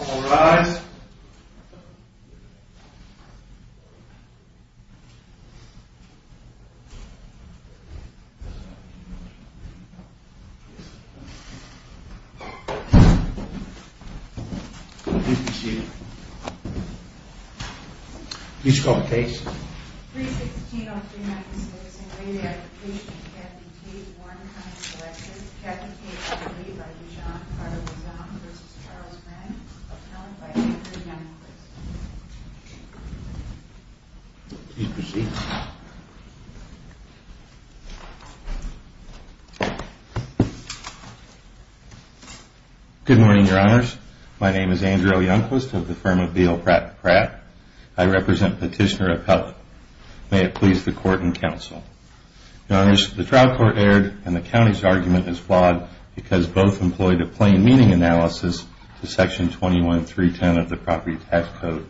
All rise. Please call the case. Good morning, Your Honors. My name is Andrew O. Youngquist of the firm of D.O. Pratt & Pratt. I represent Petitioner Appellate. May it please the Court and Counsel. Your Honors, the trial court erred and the county's argument is flawed because both employed a plain meaning analysis to Section 21310 of the Property Tax Code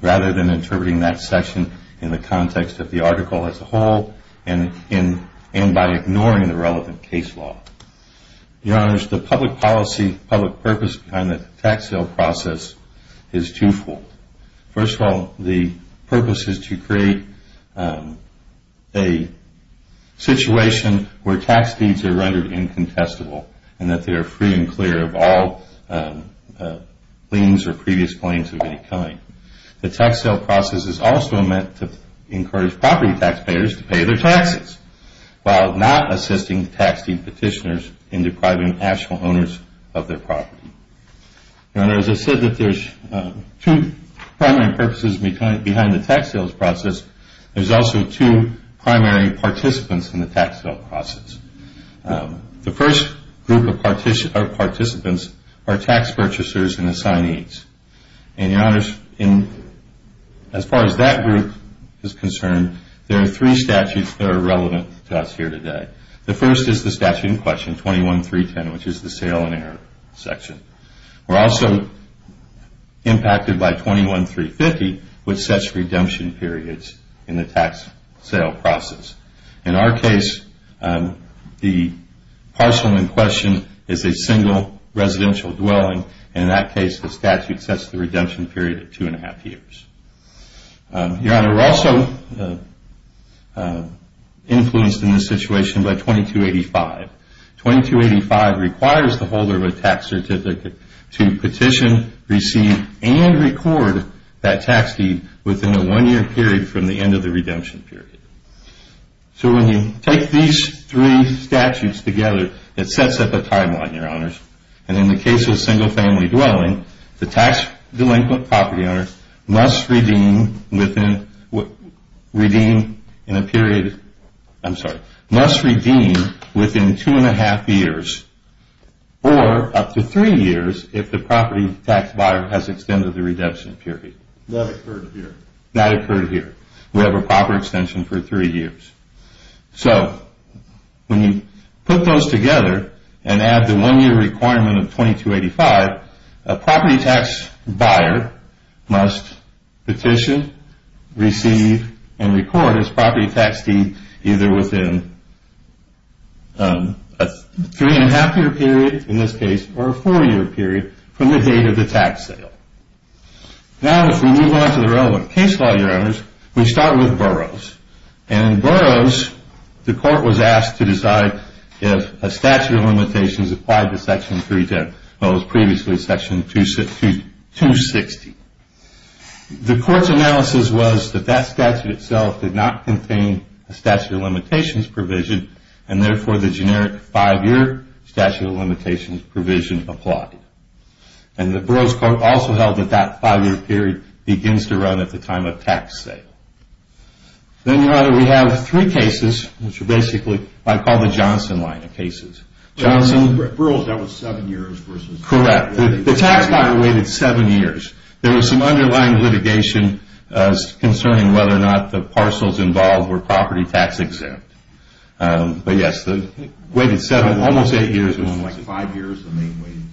rather than interpreting that section in the context of the article as a whole and by ignoring the relevant case law. Your Honors, the public policy, public purpose behind the tax sale process is twofold. First of all, the purpose is to create a situation where tax deeds are rendered incontestable and that they are free and clear of all liens or previous claims of any kind. The tax sale process is also meant to encourage property taxpayers to pay their taxes while not assisting tax deed petitioners in depriving actual owners of their property. Your Honors, as I said that there's two primary purposes behind the tax sales process, there's also two primary participants in the tax sale process. The first group of participants are tax purchasers and assignees. And Your Honors, as far as that group is concerned, there are three statutes that are relevant to us here today. The first is the statute in question, 21310, which is the sale and error section. We're also impacted by 21350, which sets redemption periods in the tax sale process. In our case, the parcel in question is a single residential dwelling, and in that case the statute sets the redemption period at two and a half years. Your Honor, we're also influenced in this situation by 2285. 2285 requires the holder of a tax certificate to petition, receive, and record that tax deed within a one-year period from the end of the redemption period. So when you take these three statutes together, it sets up a timeline, Your Honors, and in the case of a single family dwelling, the tax delinquent property owner must redeem within two and a half years or up to three years if the property tax buyer has extended the redemption period. That occurred here. That occurred here. We have a proper extension for three years. So when you put those together and add the one-year requirement of 2285, a property tax buyer must petition, receive, and record his property tax deed either within a three and a half year period, in this case, or a four year period from the date of the tax sale. Now, as we move on to the relevant case law, Your Honors, we start with Burroughs. And in Burroughs, the court was asked to decide if a statute of limitations applied to Section 310, or was previously Section 260. The court's analysis was that that statute itself did not contain a statute of limitations provision, and therefore, the generic five-year statute of limitations provision applied. And the Burroughs court also held that that five-year period begins to run at the time of tax sale. Then, Your Honor, we have three cases, which are basically what I call the Johnson line of cases. Johnson... Burroughs, that was seven years versus... Correct. The tax buyer waited seven years. There was some underlying litigation concerning whether or not the parcels involved were property tax exempt. But yes, it waited seven, almost eight years. So it was five years of waiting.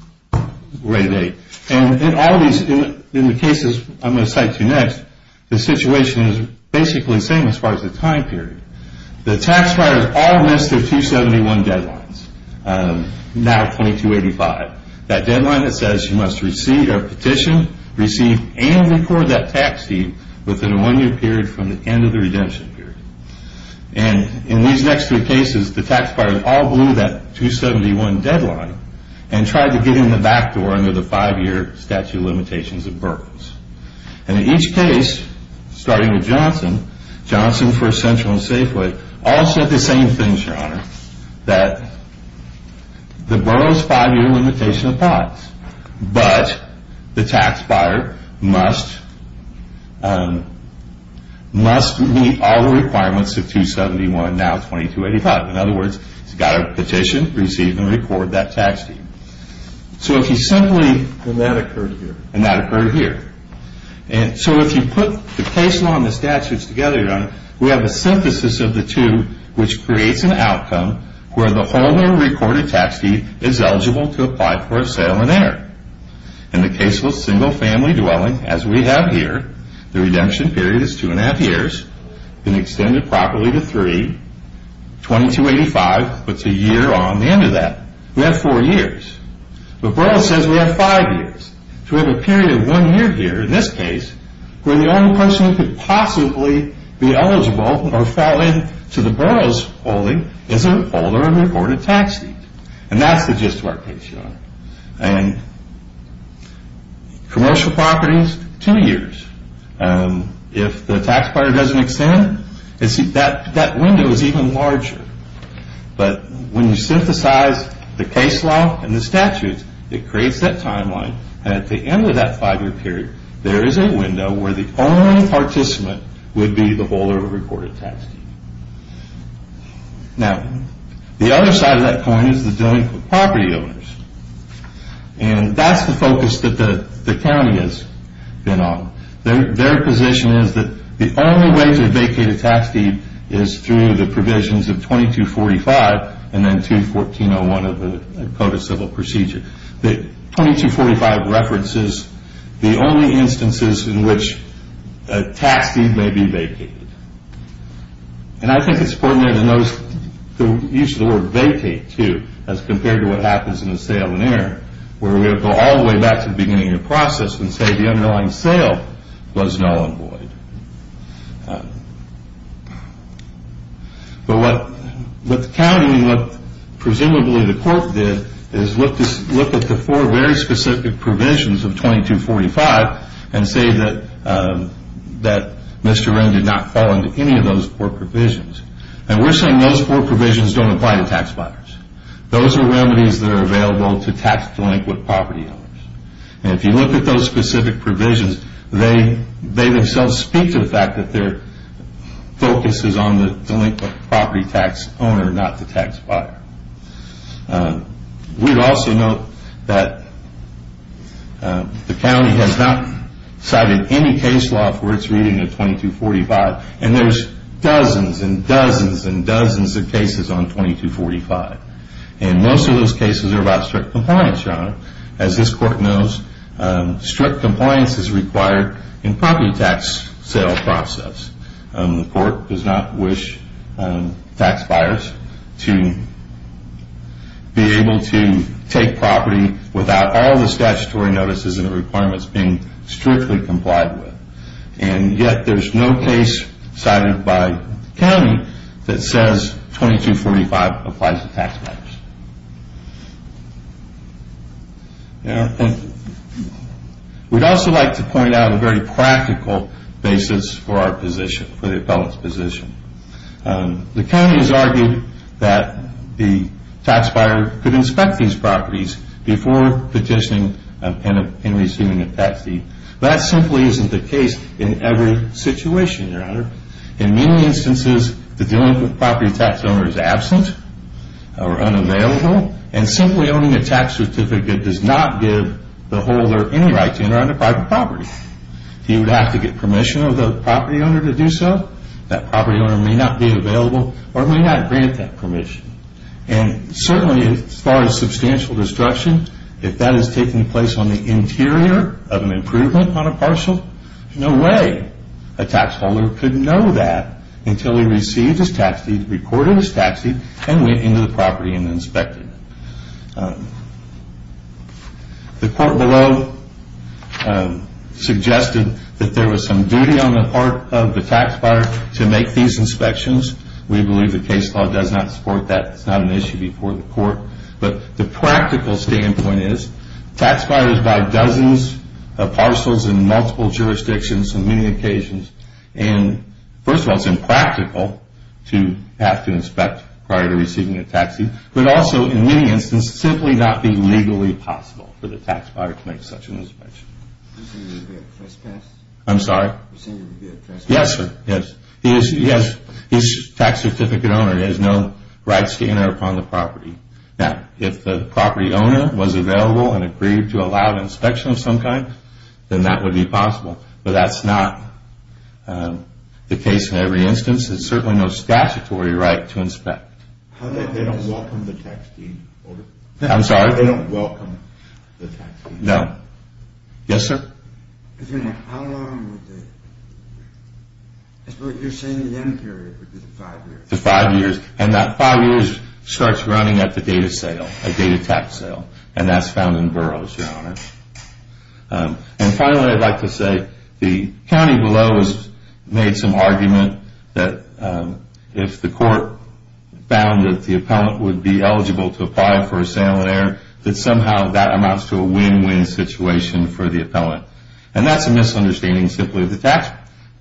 Right. And in all these, in the cases I'm going to cite to you next, the situation is basically the same as far as the time period. The tax buyers all missed their 271 deadlines, now 2285. That deadline that says you must receive a petition, receive and record that tax deed within a one-year period from the end of the redemption period. And in these next three cases, the tax buyers all blew that 271 deadline and tried to get in the back door under the five-year statute of limitations of Burroughs. And in each case, starting with Johnson, Johnson, First Central, and Safeway, all said the same thing, Your Honor, that the Burroughs five-year limitation applies. But the tax buyer must meet all the requirements of 271, now 2285. In other words, he's got to petition, receive and record that tax deed. And that occurred here. And that occurred here. And so if you put the case law and the statutes together, Your Honor, we have a synthesis of the two, which creates an outcome where the holder recorded tax deed is eligible to apply for a sale and enter. In the case of a single-family dwelling, as we have here, the redemption period is two and a half years and extended properly to three. 2285 puts a year on the end of that. We have four years. But Burroughs says we have five years. So we have a period of one year here, in this case, where the only person who could possibly be eligible or fall into the Burroughs holding is the holder of the recorded tax deed. And that's the gist of our case, Your Honor. And commercial properties, two years. If the tax buyer doesn't extend, that window is even larger. But when you synthesize the case law and the statutes, it creates that timeline. And at the end of that five-year period, there is a window where the only participant would be the holder of a recorded tax deed. Now, the other side of that coin is the dealing with property owners. And that's the focus that the county has been on. Their position is that the only way to vacate a tax deed is through the provisions of 2245 and then 21401 of the Code of Civil Procedure. The 2245 references the only instances in which a tax deed may be vacated. And I think it's important to notice the use of the word vacate, too, as compared to what happens in a sale on air, where we go all the way back to the beginning of the process and say the underlying sale was null and void. But what the county and what presumably the court did is look at the four very specific provisions of 2245 and say that Mr. Wren did not fall into any of those four provisions. And we're saying those four provisions don't apply to tax buyers. Those are remedies that are available to tax-delinquent property owners. And if you look at those specific provisions, they themselves speak to the fact that their focus is on the delinquent property tax owner, not the tax buyer. We'd also note that the county has not cited any case law for its reading of 2245, and there's dozens and dozens and dozens of cases on 2245. And most of those cases are about strict compliance, Your Honor, as this court knows strict compliance is required in property tax sale process. The court does not wish tax buyers to be able to take property without all the statutory notices and the requirements being strictly complied with. And yet there's no case cited by the county that says 2245 applies to tax buyers. We'd also like to point out a very practical basis for our position, for the appellant's position. The county has argued that the tax buyer could inspect these properties before petitioning and receiving a tax deed. That simply isn't the case in every situation, Your Honor. In many instances, the delinquent property tax owner is absent or unavailable, and simply owning a tax certificate does not give the holder any right to enter onto private property. He would have to get permission of the property owner to do so. That property owner may not be available or may not grant that permission. And certainly as far as substantial destruction, if that is taking place on the interior of an improvement on a parcel, no way a tax holder could know that until he received his tax deed, recorded his tax deed, and went into the property and inspected it. The court below suggested that there was some duty on the part of the tax buyer to make these inspections. We believe the case law does not support that. It's not an issue before the court. But the practical standpoint is, tax buyers buy dozens of parcels in multiple jurisdictions on many occasions. And first of all, it's impractical to have to inspect prior to receiving a tax deed. But also, in many instances, it would simply not be legally possible for the tax buyer to make such an inspection. I'm sorry? Yes, sir. Yes. He's a tax certificate owner. He has no rights to enter upon the property. Now, if the property owner was available and agreed to allow an inspection of some kind, then that would be possible. But that's not the case in every instance. There's certainly no statutory right to inspect. I'm sorry? No. Yes, sir? Five years. And that five years starts running at the date of sale, the date of tax sale. And that's found in boroughs, Your Honor. And finally, I'd like to say, the county below has made some argument that if the court found that the appellant would be eligible to apply for a sale on air, that somehow that amounts to a win-win situation for the appellant. And that's a misunderstanding simply of the tax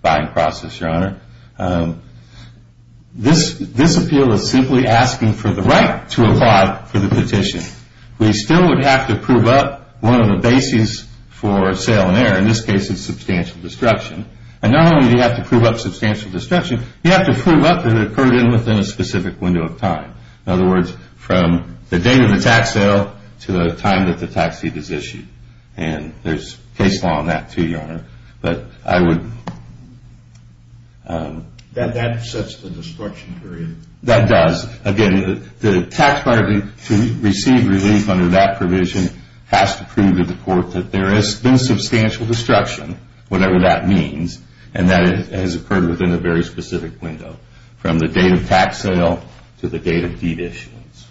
buying process, Your Honor. This appeal is simply asking for the right to apply for the petition. We still would have to prove up one of the bases for sale on air. In this case, it's substantial destruction. And not only do you have to prove up substantial destruction, you have to prove up that it occurred within a specific window of time. In other words, from the date of the tax sale to the time that the tax deed is issued. And there's case law on that, too, Your Honor. But I would... That sets the destruction period. That does. Again, the tax buyer to receive relief under that provision has to prove to the court that there has been substantial destruction, whatever that means, and that it has occurred within a very specific window. From the date of tax sale to the date of deed issuance.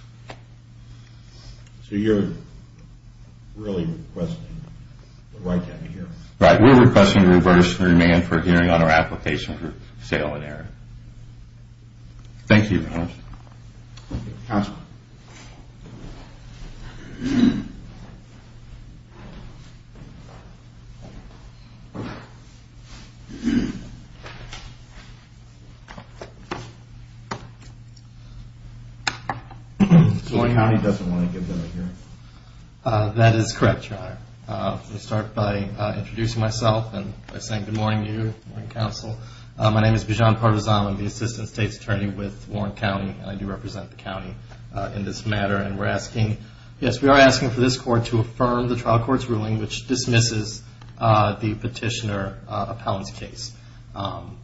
So you're really requesting the right to have a hearing. Right. We're requesting to reverse the demand for a hearing on our application for sale on air. Thank you, Your Honor. Counsel. Warren County doesn't want to give them a hearing. That is correct, Your Honor. Let me start by introducing myself and by saying good morning to you, counsel. My name is Bijan Partizan. I'm the Assistant State's Attorney with Warren County. And I do represent the county in this matter. And we're asking... Yes, we are asking for this court to affirm the trial court's ruling, which dismisses the petitioner appellant's case.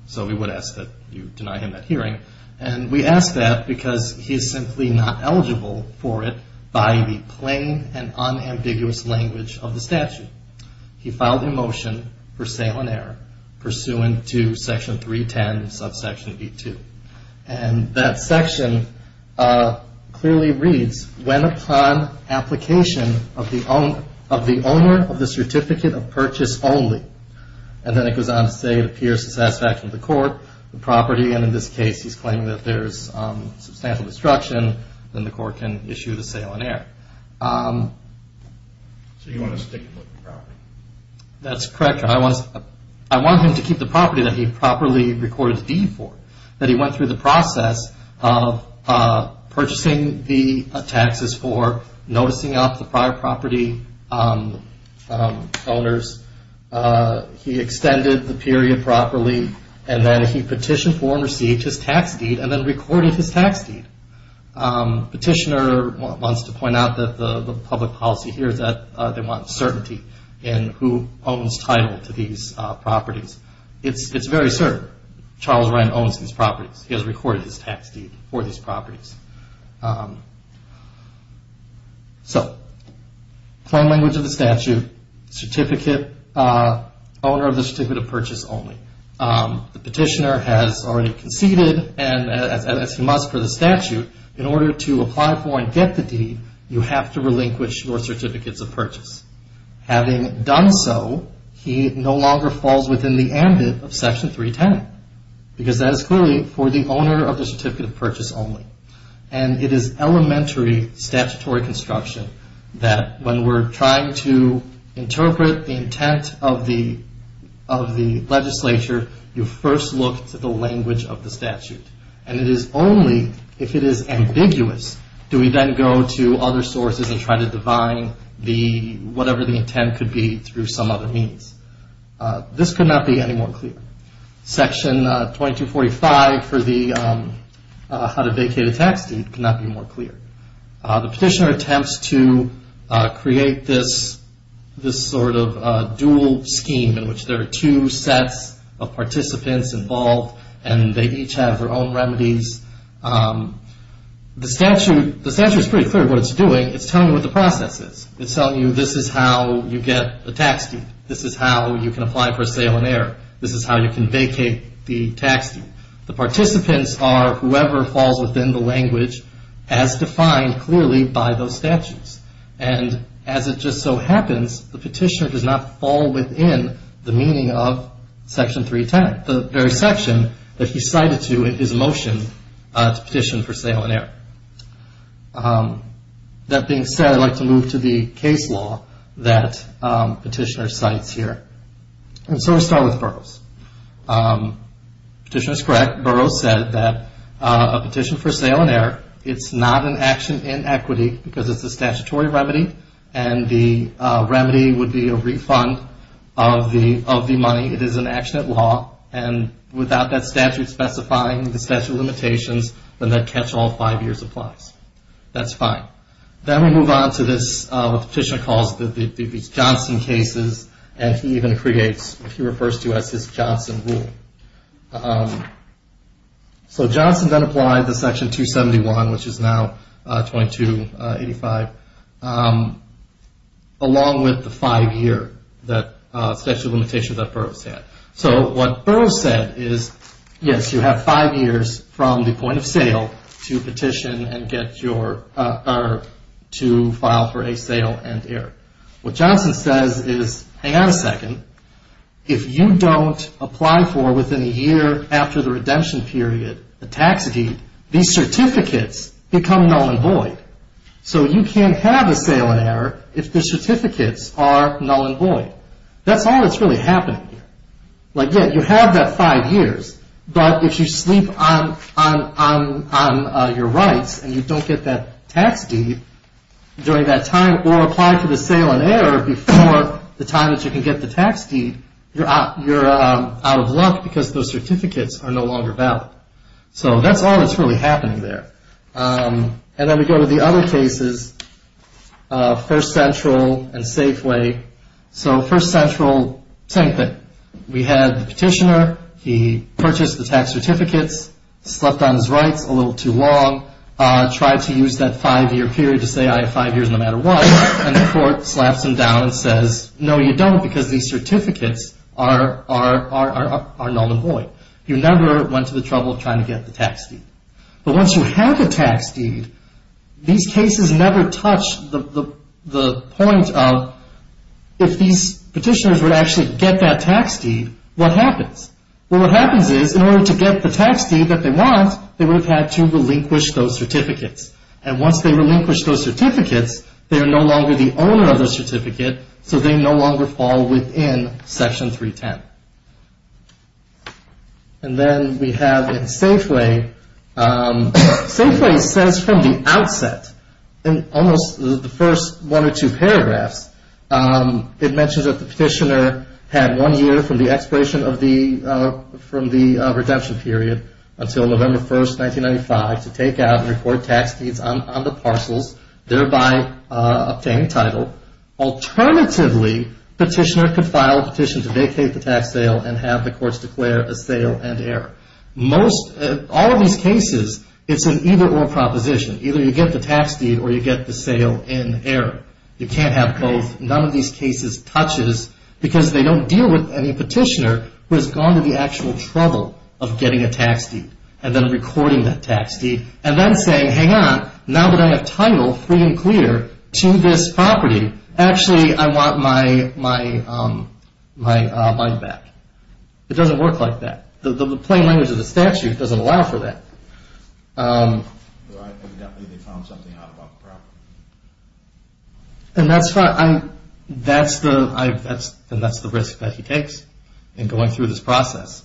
So we would ask that you deny him that hearing. And we ask that because he is simply not eligible for it by the plain and unambiguous language of the statute. He filed a motion for sale on air pursuant to Section 310, subsection B2. And that section clearly reads, when upon application of the owner of the certificate of purchase only, and then it goes on to say it appears to satisfaction of the court, the property, and in this case he's claiming that there's substantial destruction, then the court can issue the sale on air. So you want to stick with the property? That's correct, Your Honor. I want him to keep the property that he properly recorded the deed for, that he went through the process of purchasing the taxes for, noticing off the prior property owners. He extended the period properly. And then he petitioned for and received his tax deed and then recorded his tax deed. Petitioner wants to point out that the public policy here is that they want certainty in who owns title to these properties. It's very certain. Charles Ryan owns these properties. He has recorded his tax deed for these properties. So, plain language of the statute, certificate, owner of the certificate of purchase only. The petitioner has already conceded, and as he must for the statute, in order to apply for and get the deed, you have to relinquish your certificates of purchase. Having done so, he no longer falls within the ambit of Section 310, because that is clearly for the owner of the certificate of purchase only. And it is elementary statutory construction that when we're trying to interpret the intent of the legislature, you first look to the language of the statute. And it is only if it is ambiguous do we then go to other sources and try to define whatever the intent could be through some other means. This could not be any more clear. Section 2245 for the how to vacate a tax deed could not be more clear. The petitioner attempts to create this sort of dual scheme in which there are two sets of participants involved, and they each have their own remedies. The statute is pretty clear what it's doing. It's telling you what the process is. It's telling you this is how you get a tax deed. This is how you can apply for a sale on air. This is how you can vacate the tax deed. The participants are whoever falls within the language as defined clearly by those statutes. And as it just so happens, the petitioner does not fall within the meaning of Section 310, the very section that he cited to in his motion to petition for sale on air. That being said, I'd like to move to the case law that Petitioner cites here. And so we'll start with Burroughs. Petitioner is correct. Burroughs said that a petition for sale on air, it's not an action in equity because it's a statutory remedy, and the remedy would be a refund of the money. It is an action at law, and without that statute specifying the statute of limitations, then that catch-all five years applies. That's fine. Then we move on to this, what the petitioner calls the Johnson cases, and he even creates what he refers to as his Johnson rule. So Johnson then applied the Section 271, which is now 2285, along with the five-year statute of limitations that Burroughs had. So what Burroughs said is, yes, you have five years from the point of sale to file for a sale and air. What Johnson says is, hang on a second. If you don't apply for, within a year after the redemption period, a tax deed, these certificates become null and void. So you can't have a sale and air if the certificates are null and void. That's all that's really happening here. Like, yeah, you have that five years, but if you sleep on your rights and you don't get that tax deed during that time or apply for the sale and air before the time that you can get the tax deed, you're out of luck because those certificates are no longer valid. So that's all that's really happening there. And then we go to the other cases, First Central and Safeway. So First Central, same thing. We had the petitioner. He purchased the tax certificates, slept on his rights a little too long, tried to use that five-year period to say I have five years no matter what, and the court slaps him down and says, no you don't because these certificates are null and void. You never went to the trouble of trying to get the tax deed. But once you have the tax deed, these cases never touch the point of, if these petitioners would actually get that tax deed, what happens? Well, what happens is, in order to get the tax deed that they want, they would have had to relinquish those certificates. And once they relinquish those certificates, they are no longer the owner of the certificate, so they no longer fall within Section 310. And then we have Safeway. Safeway says from the outset, in almost the first one or two paragraphs, it mentions that the petitioner had one year from the expiration of the redemption period until November 1, 1995 to take out and report tax deeds on the parcels, thereby obtaining title. Alternatively, the petitioner could file a petition to vacate the tax sale and have the courts declare a sale in error. All of these cases, it's an either-or proposition. Either you get the tax deed or you get the sale in error. You can't have both. None of these cases touches because they don't deal with any petitioner who has gone to the actual trouble of getting a tax deed and then recording that tax deed and then saying, hang on, now that I have title, free and clear, to this property, actually I want my money back. It doesn't work like that. The plain language of the statute doesn't allow for that. I think definitely they found something out about the property. And that's the risk that he takes in going through this process.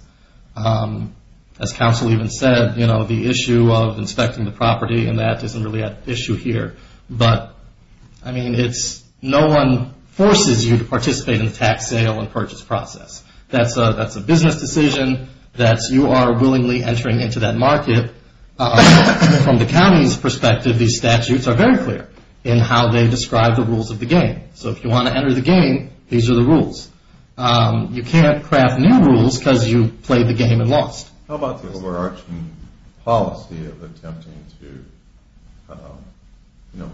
As counsel even said, you know, the issue of inspecting the property, and that isn't really an issue here. But, I mean, no one forces you to participate in the tax sale and purchase process. That's a business decision. You are willingly entering into that market. From the county's perspective, these statutes are very clear in how they describe the rules of the game. So if you want to enter the game, these are the rules. You can't craft new rules because you played the game and lost. How about the overarching policy of attempting to, you know,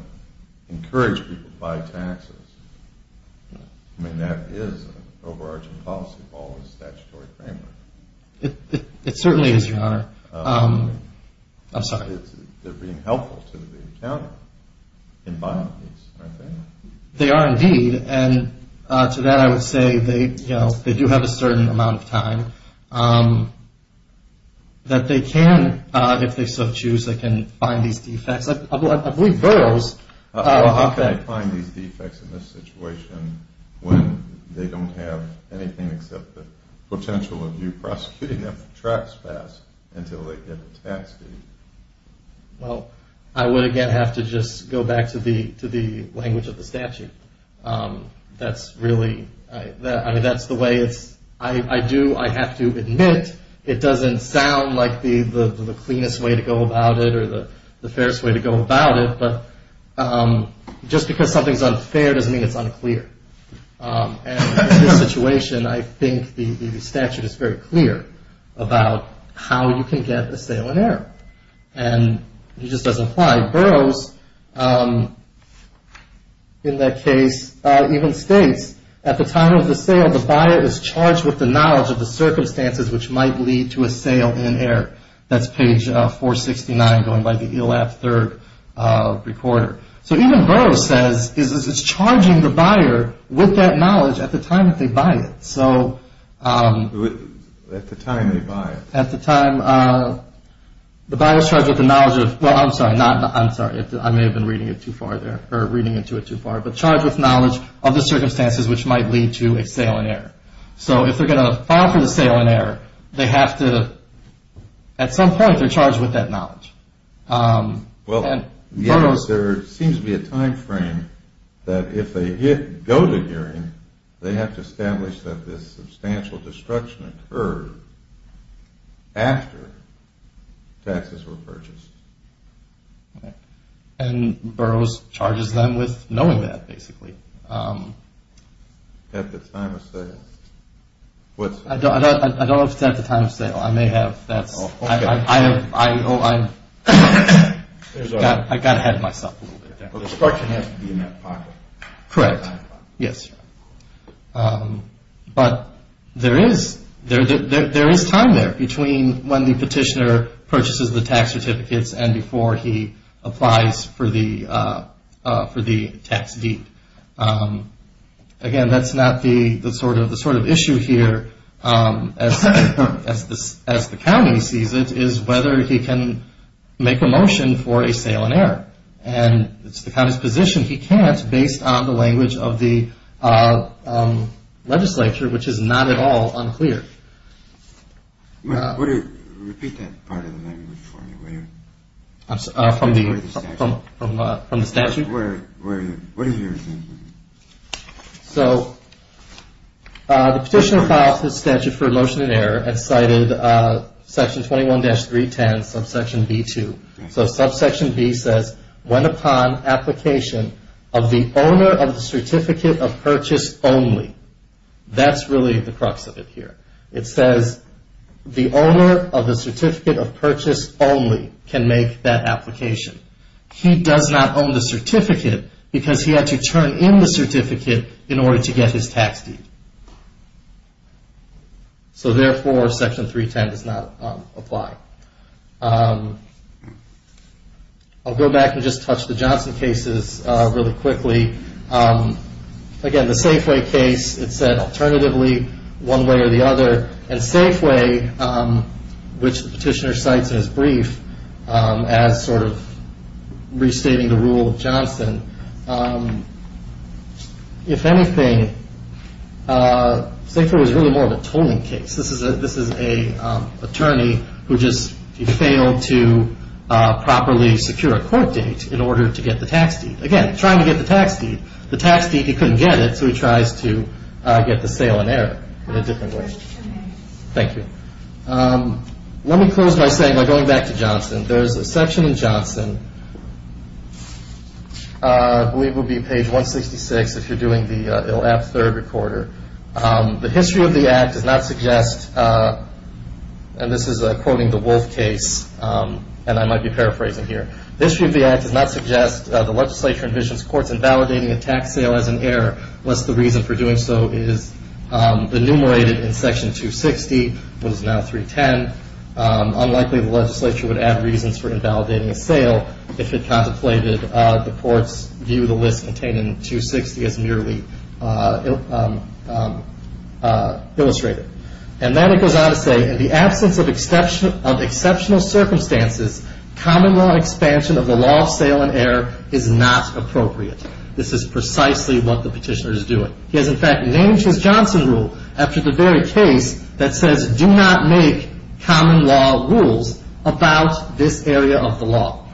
encourage people to buy taxes? I mean, that is an overarching policy of all the statutory framework. It certainly is, Your Honor. I'm sorry. They're being helpful to the county in buying these, aren't they? They are indeed, and to that I would say they do have a certain amount of time. That they can, if they so choose, they can find these defects. I believe Burroughs… How can they find these defects in this situation when they don't have anything except the potential of you prosecuting them for trespass until they get a tax deed? Well, I would, again, have to just go back to the language of the statute. That's really, I mean, that's the way it's… I do, I have to admit, it doesn't sound like the cleanest way to go about it or the fairest way to go about it, but just because something's unfair doesn't mean it's unclear. And in this situation, I think the statute is very clear about how you can get a sale in error. And it just doesn't apply. Burroughs, in that case, even states, at the time of the sale, the buyer is charged with the knowledge of the circumstances which might lead to a sale in error. That's page 469, going by the ELAB third recorder. So even Burroughs says it's charging the buyer with that knowledge at the time that they buy it. So… At the time they buy it. At the time… The buyer's charged with the knowledge of… Well, I'm sorry, I may have been reading it too far there, or reading into it too far, but charged with knowledge of the circumstances which might lead to a sale in error. So if they're going to file for the sale in error, they have to… At some point, they're charged with that knowledge. Well, there seems to be a time frame that if they go to hearing, they have to establish that this substantial destruction occurred after taxes were purchased. And Burroughs charges them with knowing that, basically. At the time of sale. I don't know if it's at the time of sale. I may have… Oh, okay. I got ahead of myself a little bit there. The destruction has to be in that pocket. Correct. Yes. But there is time there between when the petitioner purchases the tax certificates and before he applies for the tax deed. Again, that's not the sort of issue here, as the county sees it, is whether he can make a motion for a sale in error. And it's the county's position he can't, based on the language of the legislature, which is not at all unclear. Repeat that part of the language for me, will you? From the statute? Where is it? So the petitioner filed for the statute for a motion in error and cited Section 21-310, subsection B-2. So subsection B says, when upon application of the owner of the certificate of purchase only. That's really the crux of it here. It says the owner of the certificate of purchase only can make that application. He does not own the certificate because he had to turn in the certificate in order to get his tax deed. So therefore, Section 310 does not apply. I'll go back and just touch the Johnson cases really quickly. Again, the Safeway case, it said alternatively, one way or the other. And Safeway, which the petitioner cites in his brief, if anything, Safeway was really more of a tolling case. This is an attorney who just failed to properly secure a court date in order to get the tax deed. Again, trying to get the tax deed. The tax deed, he couldn't get it, so he tries to get the sale in error in a different way. Thank you. There's a section in Johnson. I believe it would be page 166 if you're doing the ILL-APP third recorder. The history of the act does not suggest, and this is quoting the Wolf case, and I might be paraphrasing here. The history of the act does not suggest the legislature envisions courts invalidating a tax sale as an error, lest the reason for doing so is enumerated in Section 260, which is now 310. Unlikely the legislature would have reasons for invalidating a sale if it contemplated the court's view of the list contained in 260 as merely illustrated. And then it goes on to say, in the absence of exceptional circumstances, common law expansion of the law of sale and error is not appropriate. This is precisely what the petitioner is doing. He has, in fact, named his Johnson rule after the very case that says, do not make common law rules about this area of the law.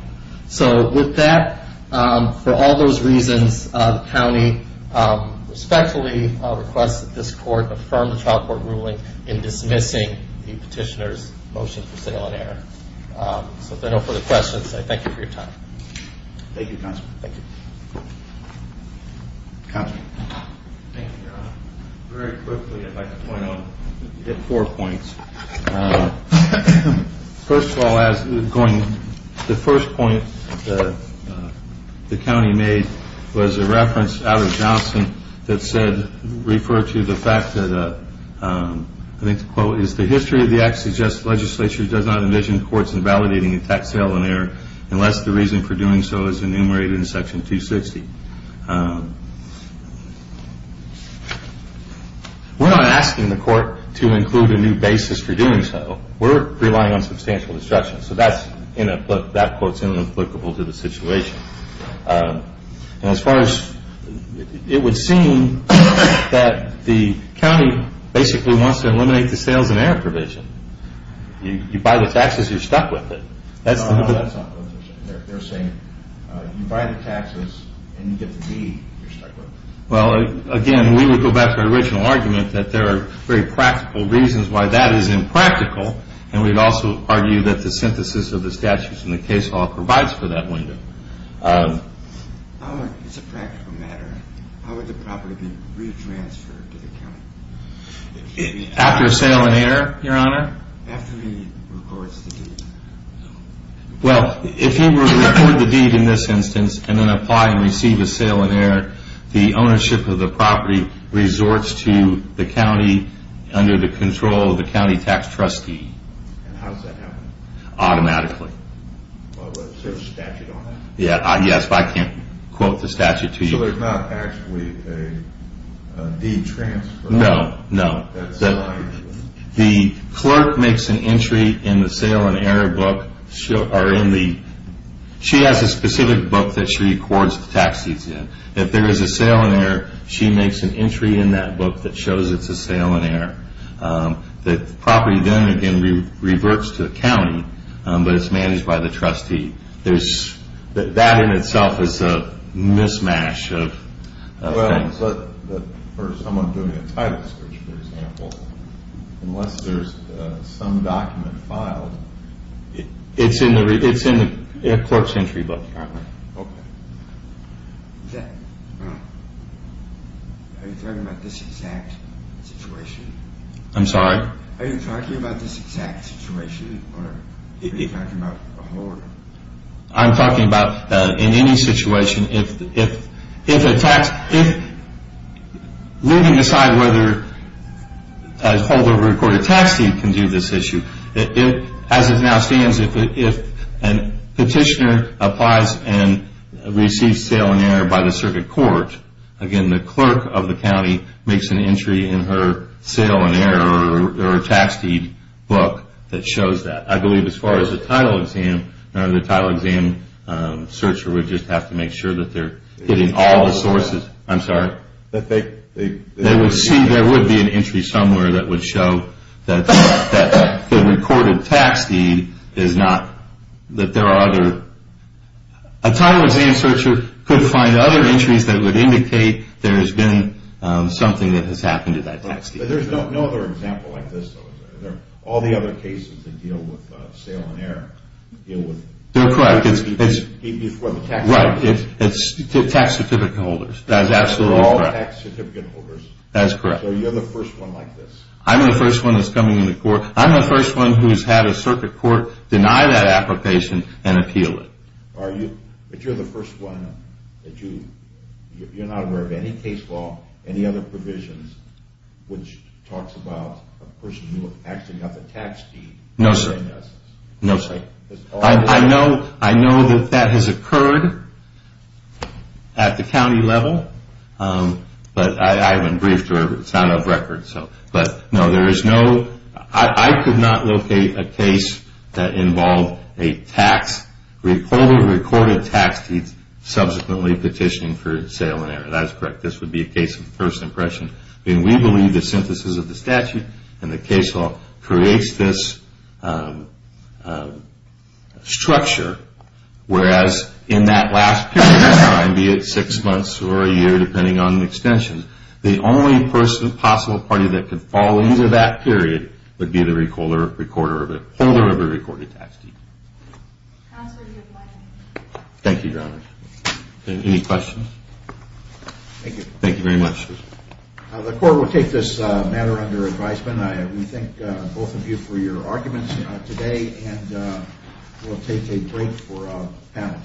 So with that, for all those reasons, the county respectfully requests that this court affirm the child court ruling in dismissing the petitioner's motion for sale and error. So if there are no further questions, I thank you for your time. Thank you, Counselor. Counselor. Thank you, Your Honor. Very quickly, I'd like to point out four points. First of all, the first point the county made was a reference out of Johnson that said, referred to the fact that, I think the quote is, the history of the act suggests the legislature does not envision courts invalidating a tax sale and error unless the reason for doing so is enumerated in Section 260. We're not asking the court to include a new basis for doing so. We're relying on substantial destruction. So that quote is inapplicable to the situation. As far as it would seem that the county basically wants to eliminate the sales and error provision. You buy the taxes, you're stuck with it. No, that's not what they're saying. They're saying you buy the taxes and you get the deed, you're stuck with it. Well, again, we would go back to our original argument that there are very practical reasons why that is impractical, and we'd also argue that the synthesis of the statutes in the case law provides for that window. As a practical matter, how would the property be re-transferred to the county? After a sale and error, Your Honor? After he records the deed. Well, if he would record the deed in this instance and then apply and receive a sale and error, the ownership of the property resorts to the county under the control of the county tax trustee. And how does that happen? Automatically. Is there a statute on that? Yes, but I can't quote the statute to you. So there's not actually a deed transfer? No, no. The clerk makes an entry in the sale and error book. She has a specific book that she records the tax deeds in. If there is a sale and error, she makes an entry in that book that shows it's a sale and error. The property then, again, reverts to the county, but it's managed by the trustee. That in itself is a mismatch of things. But for someone doing a title search, for example, unless there's some document filed. It's in the clerk's entry book. Okay. Are you talking about this exact situation? I'm sorry? Are you talking about this exact situation or are you talking about a whole? I'm talking about in any situation. If leaving aside whether a holdover recorded tax deed can do this issue, as it now stands, if a petitioner applies and receives sale and error by the circuit court, again, the clerk of the county makes an entry in her sale and error or tax deed book that shows that. I believe as far as the title exam, the title exam searcher would just have to make sure that they're getting all the sources. I'm sorry? That they would see there would be an entry somewhere that would show that the recorded tax deed is not, that there are other. A title exam searcher could find other entries that would indicate there has been something that has happened to that tax deed. There's no other example like this, though, is there? All the other cases that deal with sale and error deal with. They're correct. Before the tax. Right. It's tax certificate holders. That is absolutely correct. They're all tax certificate holders. That is correct. So you're the first one like this. I'm the first one that's coming into court. I'm the first one who's had a circuit court deny that application and appeal it. Are you? But you're the first one that you, you're not aware of any case law, any other provisions, which talks about a person who actually has a tax deed. No, sir. No, sir. I know, I know that that has occurred at the county level, but I haven't briefed her. It's out of record, so. But, no, there is no, I could not locate a case that involved a tax, recorded tax deed subsequently petitioning for sale and error. That is correct. This would be a case of first impression. And we believe the synthesis of the statute and the case law creates this structure. Whereas in that last period of time, be it six months or a year, depending on the extension, the only person, possible party that could fall into that period would be the recorder, holder of a recorded tax deed. Counselor, you have one minute. Thank you, Your Honor. Any questions? Thank you. Thank you very much. The court will take this matter under advisement. We thank both of you for your arguments today, and we'll take a break for panel change. All rise.